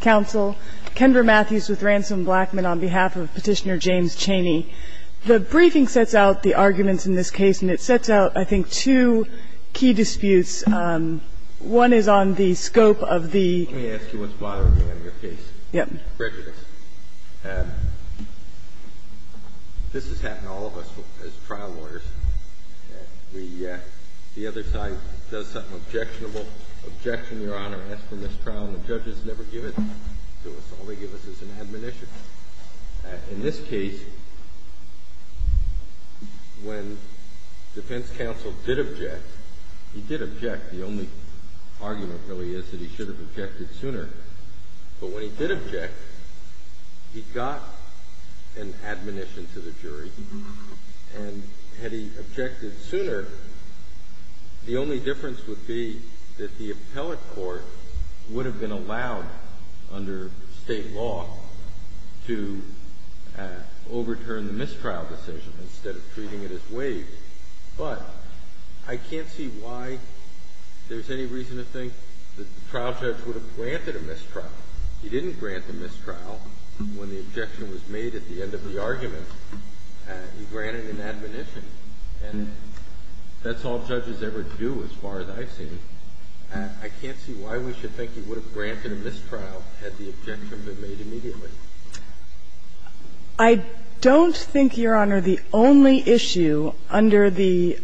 Council, Kendra Matthews with Ransom Blackman on behalf of Petitioner James Cheney. The briefing sets out the arguments in this case, and it sets out, I think, two key disputes. One is on the scope of the Let me ask you what's bothering me on your case. Yep. Prejudice. This has happened to all of us as trial lawyers. The other side does something objectionable, objection, Your Honor, after this trial, and the judges never give it to us. All they give us is an admonition. In this case, when defense counsel did object, he did object. The only argument, really, is that he should have objected sooner. But when he did object, he got an admonition to the jury. And had he objected sooner, the only difference would be that the appellate court would have been allowed under State law to overturn the mistrial decision instead of treating it as waived. But I can't see why there's any reason to think that the trial judge would have granted a mistrial. He didn't grant the mistrial when the objection was made at the end of the argument. He granted an admonition. And that's all judges ever do, as far as I've seen. I can't see why we should think he would have granted a mistrial had the objection been made immediately. I don't think, Your Honor, the only issue under the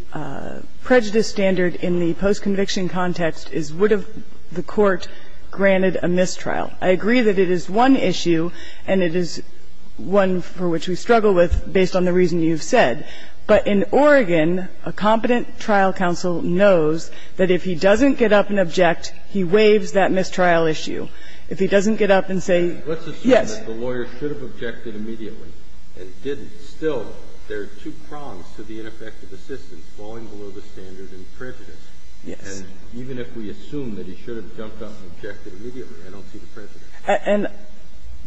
prejudice standard in the post-conviction context is would have the court granted a mistrial. I agree that it is one issue, and it is one for which we struggle with, based on the reason you've said. But in Oregon, a competent trial counsel knows that if he doesn't get up and object, he waives that mistrial issue. If he doesn't get up and say, yes. Kennedy, let's assume that the lawyer should have objected immediately and didn't. Still, there are two prongs to the ineffective assistance, falling below the standard and prejudice. Yes. Even if we assume that he should have jumped up and objected immediately. I don't see the prejudice. And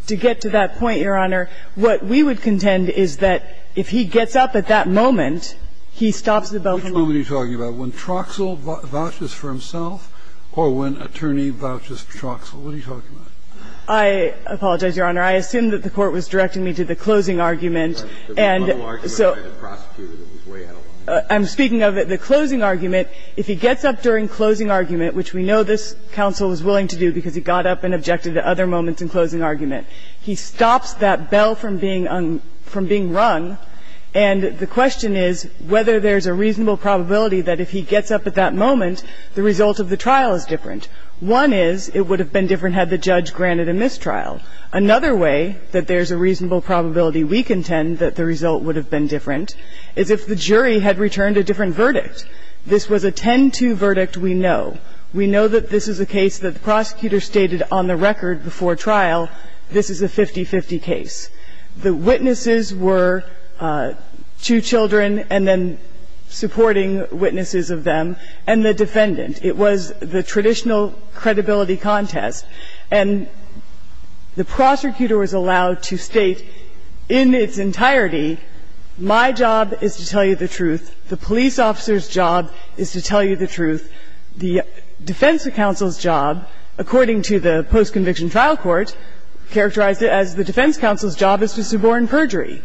to get to that point, Your Honor, what we would contend is that if he gets up at that moment, he stops the bell from ringing. Which moment are you talking about, when Troxell vouches for himself or when attorney vouches for Troxell? What are you talking about? I apologize, Your Honor. I assumed that the Court was directing me to the closing argument. And so the final argument by the prosecutor that was way out of line. I'm speaking of the closing argument. If he gets up during closing argument, which we know this counsel was willing to do because he got up and objected at other moments in closing argument, he stops that bell from being rung. And the question is whether there's a reasonable probability that if he gets up at that moment, the result of the trial is different. One is it would have been different had the judge granted a mistrial. Another way that there's a reasonable probability, we contend, that the result would have been different is if the jury had returned a different verdict. This was a 10-2 verdict, we know. We know that this is a case that the prosecutor stated on the record before trial, this is a 50-50 case. The witnesses were two children and then supporting witnesses of them, and the defendant. It was the traditional credibility contest. And the prosecutor was allowed to state in its entirety, my job is to tell you the truth, the police officer's job is to tell you the truth, the defense counsel's job, according to the post-conviction trial court, characterized as the defense counsel's job is to suborn perjury.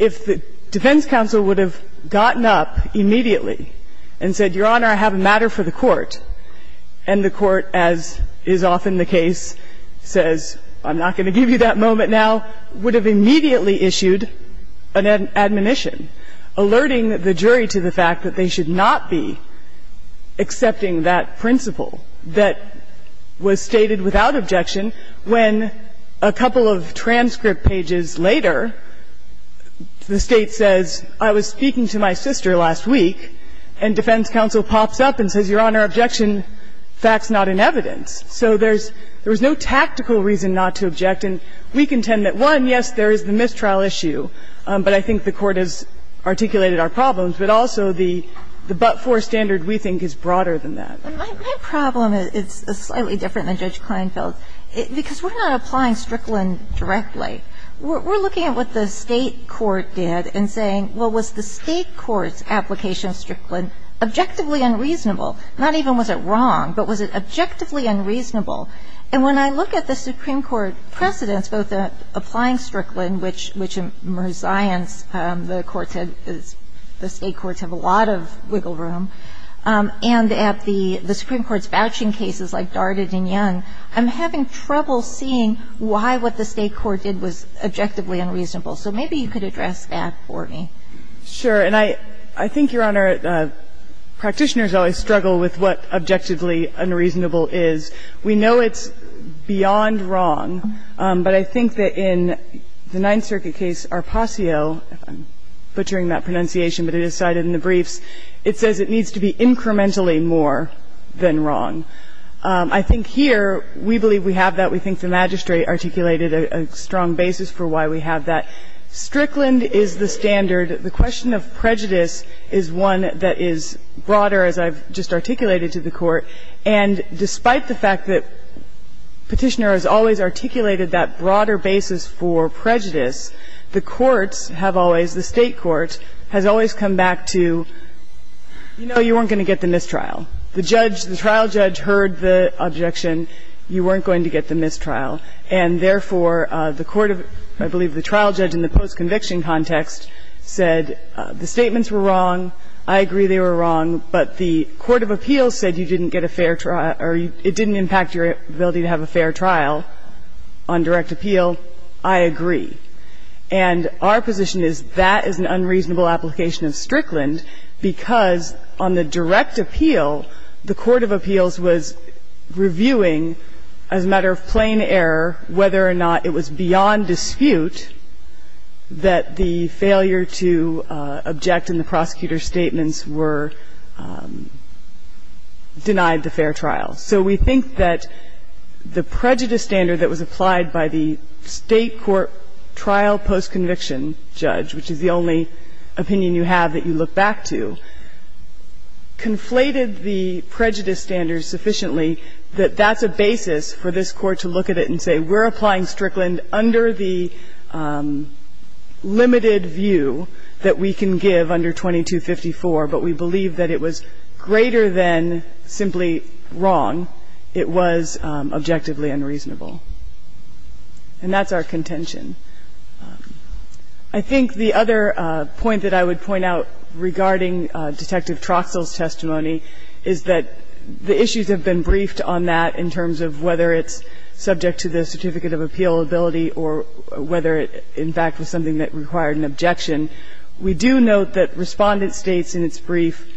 If the defense counsel would have gotten up immediately and said, Your Honor, I have a matter for the court, and the court, as is often the case, says, I'm not going to give you that moment now, would have immediately issued an admonition, alerting the jury to the fact that they should not be accepting that principle that was stated without objection, when a couple of transcript pages later, the State says, I was speaking to my sister last week, and defense counsel Paulson said, I'm And then the court pops up and says, Your Honor, objection, fact's not in evidence. So there's no tactical reason not to object. And we contend that, one, yes, there is the mistrial issue, but I think the Court has articulated our problems. But also, the but-for standard, we think, is broader than that. My problem is slightly different than Judge Kleinfeld's, because we're not applying Strickland directly. We're looking at what the State court did and saying, well, was the State court's application of Strickland objectively unreasonable? Not even was it wrong, but was it objectively unreasonable? And when I look at the Supreme Court precedents, both applying Strickland, which in resignance, the courts had the State courts have a lot of wiggle room, and at the Supreme Court's vouching cases like Darded and Young, I'm having trouble seeing why what the State court did was objectively unreasonable. So maybe you could address that for me. Sure. And I think, Your Honor, practitioners always struggle with what objectively unreasonable is. We know it's beyond wrong, but I think that in the Ninth Circuit case, Arpaccio – I'm butchering that pronunciation, but it is cited in the briefs – it says it needs to be incrementally more than wrong. I think here, we believe we have that. We think the magistrate articulated a strong basis for why we have that. Strickland is the standard. The question of prejudice is one that is broader, as I've just articulated to the Court. And despite the fact that Petitioner has always articulated that broader basis for prejudice, the courts have always, the State court, has always come back to, you know, you weren't going to get the mistrial. The judge, the trial judge heard the objection, you weren't going to get the mistrial. And therefore, the court of – I believe the trial judge in the post-conviction context said the statements were wrong, I agree they were wrong, but the court of appeals said you didn't get a fair – or it didn't impact your ability to have a fair trial on direct appeal. I agree. And our position is that is an unreasonable application of Strickland, because on the direct appeal, the court of appeals was reviewing as a matter of plain error whether or not it was beyond dispute that the failure to object in the prosecutor's case was a matter of plain error, and the court of appeals was reviewing as a matter of plain error whether or not the statements were denied the fair trial. So we think that the prejudice standard that was applied by the State court trial post-conviction judge, which is the only opinion you have that you look back to, conflated the prejudice standard sufficiently that that's a basis for this Court to look at it and say we're applying Strickland under the limited view that we can give under 2254, but we believe that it was greater than simply wrong, it was objectively unreasonable. And that's our contention. I think the other point that I would point out regarding Detective Troxell's case is that the issues have been briefed on that in terms of whether it's subject to the certificate of appealability or whether it in fact was something that required an objection. We do note that Respondent states in its brief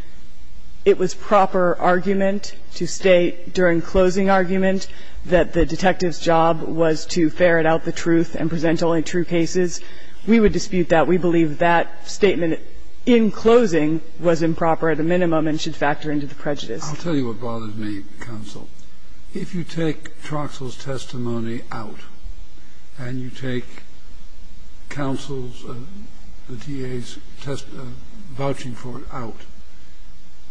it was proper argument to state during closing argument that the detective's job was to ferret out the truth and present only true cases. We would dispute that. We believe that statement in closing was improper at a minimum and should factor into the prejudice. Kennedy, I'll tell you what bothers me, counsel. If you take Troxell's testimony out and you take counsel's, the DA's, vouching for it out,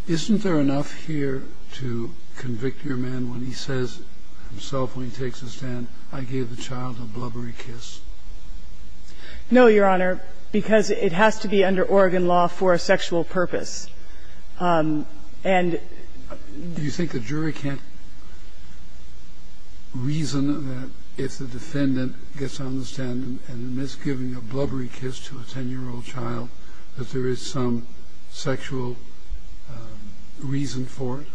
isn't there enough here to convict your man when he says himself when he takes a stand, I gave the child a blubbery kiss? No, Your Honor. Because it has to be under Oregon law for a sexual purpose. And do you think the jury can't reason that if the defendant gets on the stand and admits giving a blubbery kiss to a 10-year-old child, that there is some sexual reason for it?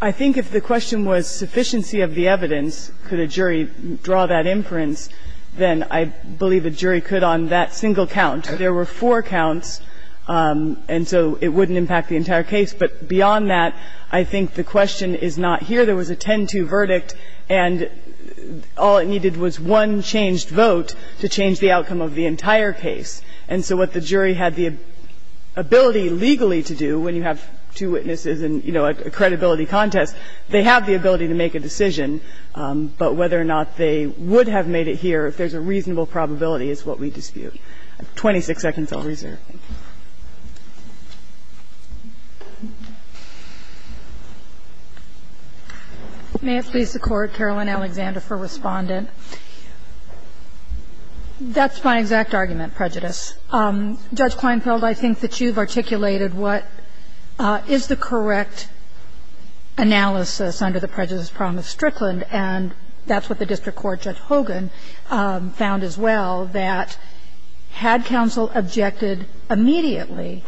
I think if the question was sufficiency of the evidence, could a jury draw that inference, then I believe a jury could on that single count. There were four counts, and so it wouldn't impact the entire case. But beyond that, I think the question is not here. There was a 10-2 verdict, and all it needed was one changed vote to change the outcome of the entire case. And so what the jury had the ability legally to do, when you have two witnesses and, you know, a credibility contest, they have the ability to make a decision. But whether or not they would have made it here, if there's a reasonable probability, is what we dispute. I have 26 seconds, I'll reserve. Thank you. May it please the Court, Caroline Alexander for Respondent. That's my exact argument, prejudice. Judge Kleinfeld, I think that you've articulated what is the correct analysis under the prejudice problem of Strickland, and that's what the district court, Judge Hogan, found as well, that had counsel objected immediately,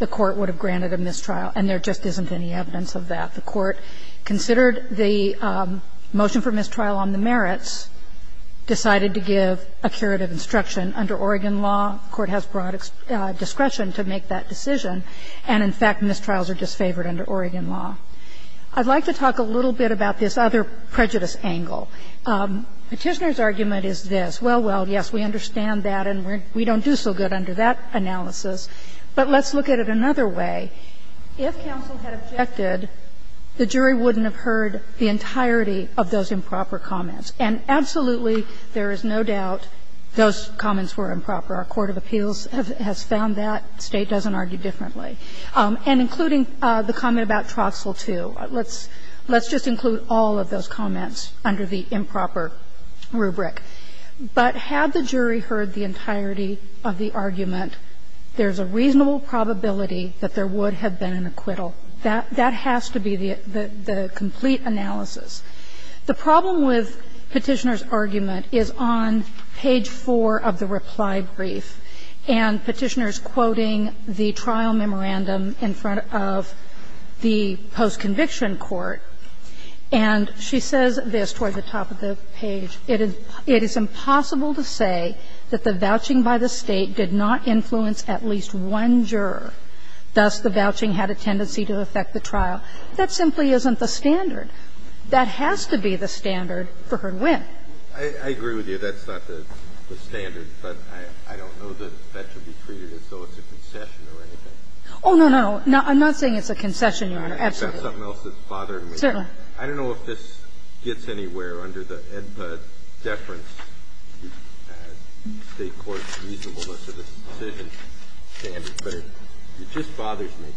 the court would have granted a mistrial, and there just isn't any evidence of that. The court considered the motion for mistrial on the merits, decided to give a curative instruction under Oregon law. The court has broad discretion to make that decision, and in fact, mistrials are disfavored under Oregon law. I'd like to talk a little bit about this other prejudice angle. Petitioner's argument is this. Well, well, yes, we understand that, and we don't do so good under that analysis. But let's look at it another way. If counsel had objected, the jury wouldn't have heard the entirety of those improper comments. And absolutely, there is no doubt those comments were improper. Our court of appeals has found that. The State doesn't argue differently. And including the comment about Trostle II, let's just include all of those comments under the improper rubric. But had the jury heard the entirety of the argument, there's a reasonable probability that there would have been an acquittal. That has to be the complete analysis. The problem with Petitioner's argument is on page 4 of the reply brief, and Petitioner is quoting the trial memorandum in front of the post-conviction court. And she says this toward the top of the page. It is impossible to say that the vouching by the State did not influence at least one juror. Thus, the vouching had a tendency to affect the trial. That simply isn't the standard. That has to be the standard for her to win. I agree with you. That's not the standard. But I don't know that that should be treated as though it's a concession or anything. Oh, no, no, no. I'm not saying it's a concession, Your Honor. Absolutely. I've got something else that's bothering me. Certainly. I don't know if this gets anywhere under the EDPA deference to the State court's reasonableness of the decision standard. But it just bothers me.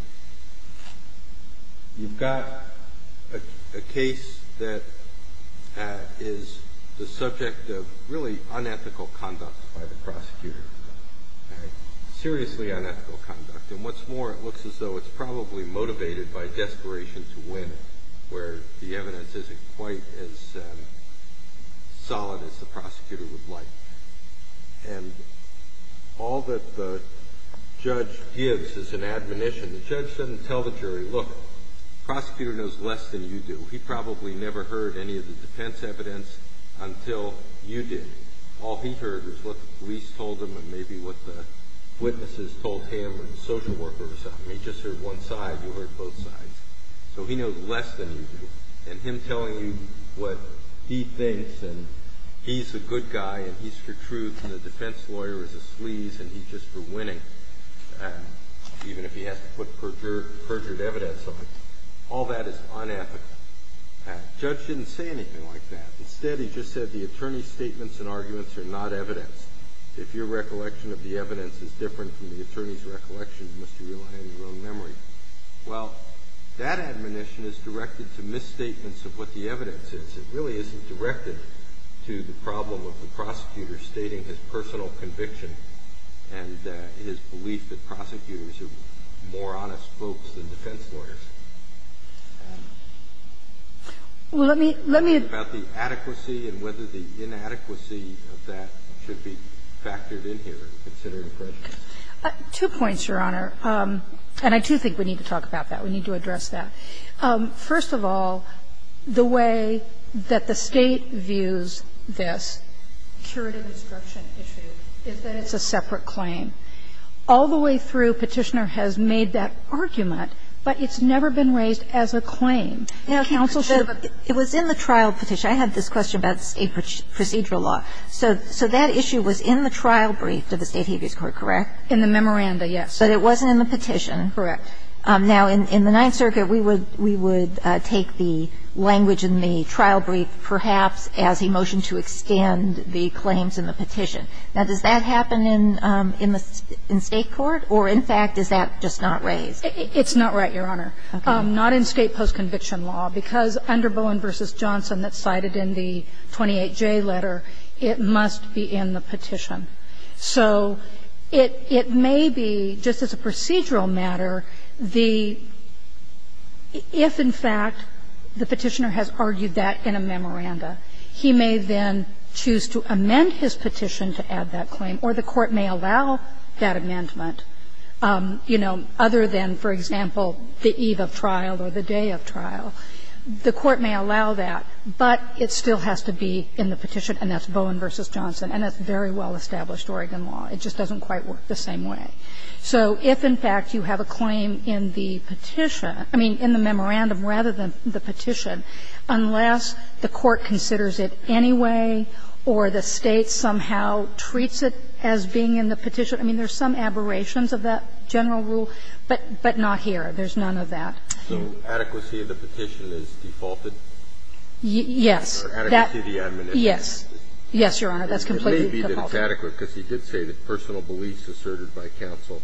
You've got a case that is the subject of really unethical conduct by the State. And you've got a case that is the subject of really unethical conduct by the prosecutor. Seriously unethical conduct. And what's more, it looks as though it's probably motivated by desperation to win, where the evidence isn't quite as solid as the prosecutor would like. And all that the judge gives is an admonition. The judge doesn't tell the jury, look, the prosecutor knows less than you do. He probably never heard any of the defense evidence until you did. All he heard was what the police told him and maybe what the witnesses told him or the social worker or something. He just heard one side. You heard both sides. So he knows less than you do. And him telling you what he thinks, and he's a good guy, and he's for truth, and the defense lawyer is a sleaze, and he's just for winning, even if he has to put perjured evidence on, all that is unethical. Judge didn't say anything like that. Instead, he just said the attorney's statements and arguments are not evidence. If your recollection of the evidence is different from the attorney's recollection, you must be relying on your own memory. Well, that admonition is directed to misstatements of what the evidence is. It really isn't directed to the problem of the prosecutor stating his personal conviction and his belief that prosecutors are more honest folks than defense lawyers. Well, let me – let me – About the adequacy and whether the inadequacy of that should be factored in here, considering prejudice. Two points, Your Honor, and I do think we need to talk about that. We need to address that. First of all, the way that the State views this curative instruction issue is that it's a separate claim. All the way through, Petitioner has made that argument, but it's never been raised as a claim. Now, counsel should have a – It was in the trial petition. I had this question about State procedural law. So that issue was in the trial brief to the State habeas court, correct? In the memoranda, yes. But it wasn't in the petition. Correct. Now, in the Ninth Circuit, we would take the language in the trial brief perhaps as he motioned to extend the claims in the petition. Now, does that happen in the – in State court, or in fact, is that just not raised? It's not right, Your Honor. Okay. Not in State post-conviction law, because under Bowen v. Johnson, that's cited in the 28J letter, it must be in the petition. So it – it may be, just as a procedural matter, the – if, in fact, the Petitioner has argued that in a memoranda, he may then choose to amend his petition to add that claim, or the court may allow that amendment, you know, other than, for example, the eve of trial or the day of trial. The court may allow that, but it still has to be in the petition, and that's Bowen v. Johnson, and that's very well-established Oregon law. It just doesn't quite work the same way. So if, in fact, you have a claim in the petition – I mean, in the memorandum rather than the petition, unless the court considers it anyway or the State somehow treats it as being in the petition, I mean, there's some aberrations of that general rule, but not here. There's none of that. So adequacy of the petition is defaulted? Yes. Or adequacy of the amendment. Yes. Yes, Your Honor. That's completely defaulted. It may be that it's adequate, because he did say that personal beliefs asserted by counsel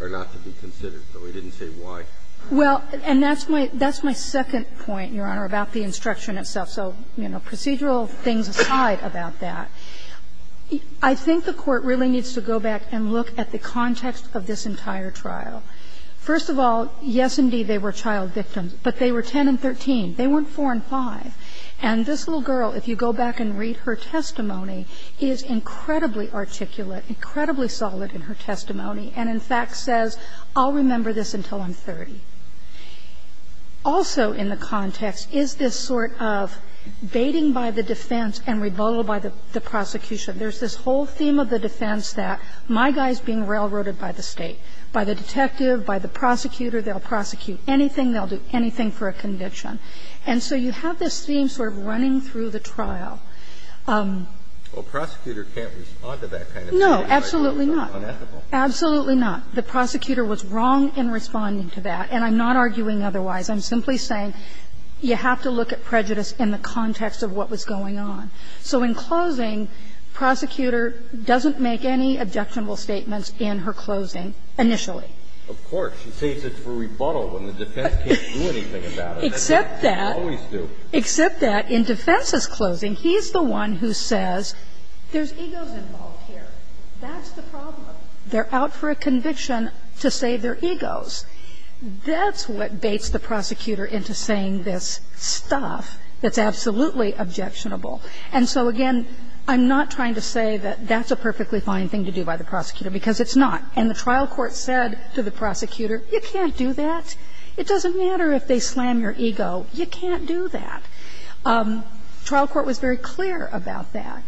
are not to be considered, though he didn't say why. Well, and that's my second point, Your Honor, about the instruction itself. So, you know, procedural things aside about that, I think the court really needs to go back and look at the context of this entire trial. First of all, yes, indeed, they were child victims, but they were 10 and 13. They weren't 4 and 5. And this little girl, if you go back and read her testimony, is incredibly articulate, incredibly solid in her testimony, and in fact says, I'll remember this until I'm 30. Also in the context is this sort of baiting by the defense and rebuttal by the prosecution. There's this whole theme of the defense that my guy's being railroaded by the State, by the detective, by the prosecutor. They'll prosecute anything. They'll do anything for a conviction. And so you have this theme sort of running through the trial. Well, a prosecutor can't respond to that kind of statement. No, absolutely not. It's unethical. Absolutely not. The prosecutor was wrong in responding to that, and I'm not arguing otherwise. I'm simply saying you have to look at prejudice in the context of what was going on. So in closing, the prosecutor doesn't make any objectionable statements in her closing initially. Of course. She saves it for rebuttal when the defense can't do anything about it. Except that, except that in defense's closing, he's the one who says there's egos involved here. That's the problem. They're out for a conviction to save their egos. That's what baits the prosecutor into saying this stuff that's absolutely objectionable. And so, again, I'm not trying to say that that's a perfectly fine thing to do by the prosecutor, because it's not. And the trial court said to the prosecutor, you can't do that. It doesn't matter if they slam your ego. You can't do that. Trial court was very clear about that.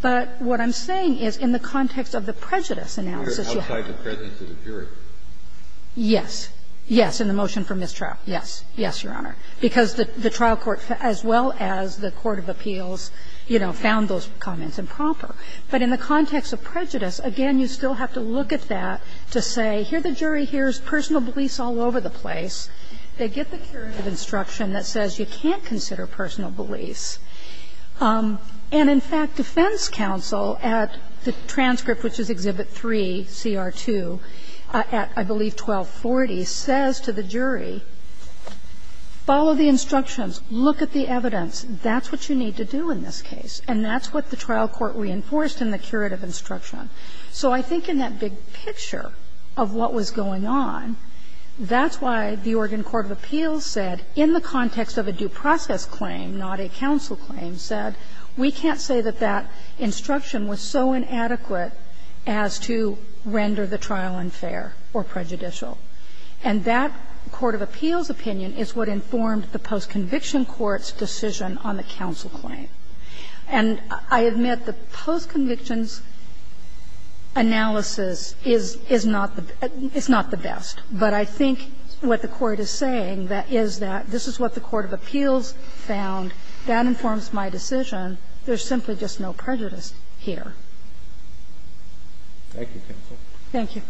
But what I'm saying is in the context of the prejudice analysis you have. Kennedy, outside the presence of the jury. Yes. Yes. In the motion for mistrial, yes. Yes, Your Honor. Because the trial court, as well as the court of appeals, you know, found those comments improper. But in the context of prejudice, again, you still have to look at that to say, here the jury hears personal beliefs all over the place. They get the curative instruction that says you can't consider personal beliefs. And, in fact, defense counsel at the transcript, which is Exhibit 3, CR 2, at, I believe, 1240, says to the jury, follow the instructions, look at the evidence, that's what you need to do in this case. And that's what the trial court reinforced in the curative instruction. So I think in that big picture of what was going on, that's why the Oregon court of appeals said, in the context of a due process claim, not a counsel claim, said, we can't say that that instruction was so inadequate as to render the trial unfair or prejudicial. And that court of appeals opinion is what informed the postconviction court's decision on the counsel claim. And I admit the postconviction's analysis is not the best. But I think what the Court is saying is that this is what the court of appeals found. That informs my decision. There's simply just no prejudice here. Thank you, counsel. Thank you.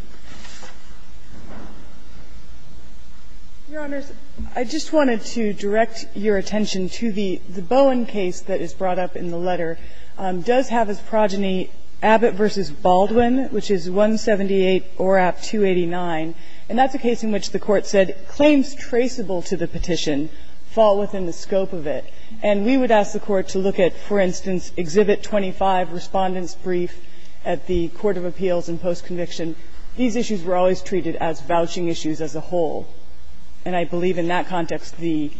Your Honors, I just wanted to direct your attention to the Bowen case that is brought up in the letter. It does have his progeny Abbott v. Baldwin, which is 178 ORAP 289. And that's a case in which the Court said claims traceable to the petition fall within the scope of it. And we would ask the Court to look at, for instance, Exhibit 25, Respondent's Brief at the court of appeals in postconviction. These issues were always treated as vouching issues as a whole. And I believe in that context the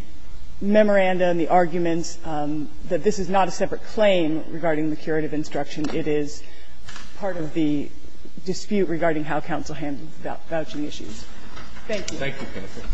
memoranda and the arguments that this is not a separate claim regarding the curative instruction, it is part of the dispute regarding how counsel handled vouching issues. Thank you. Thank you, counsel.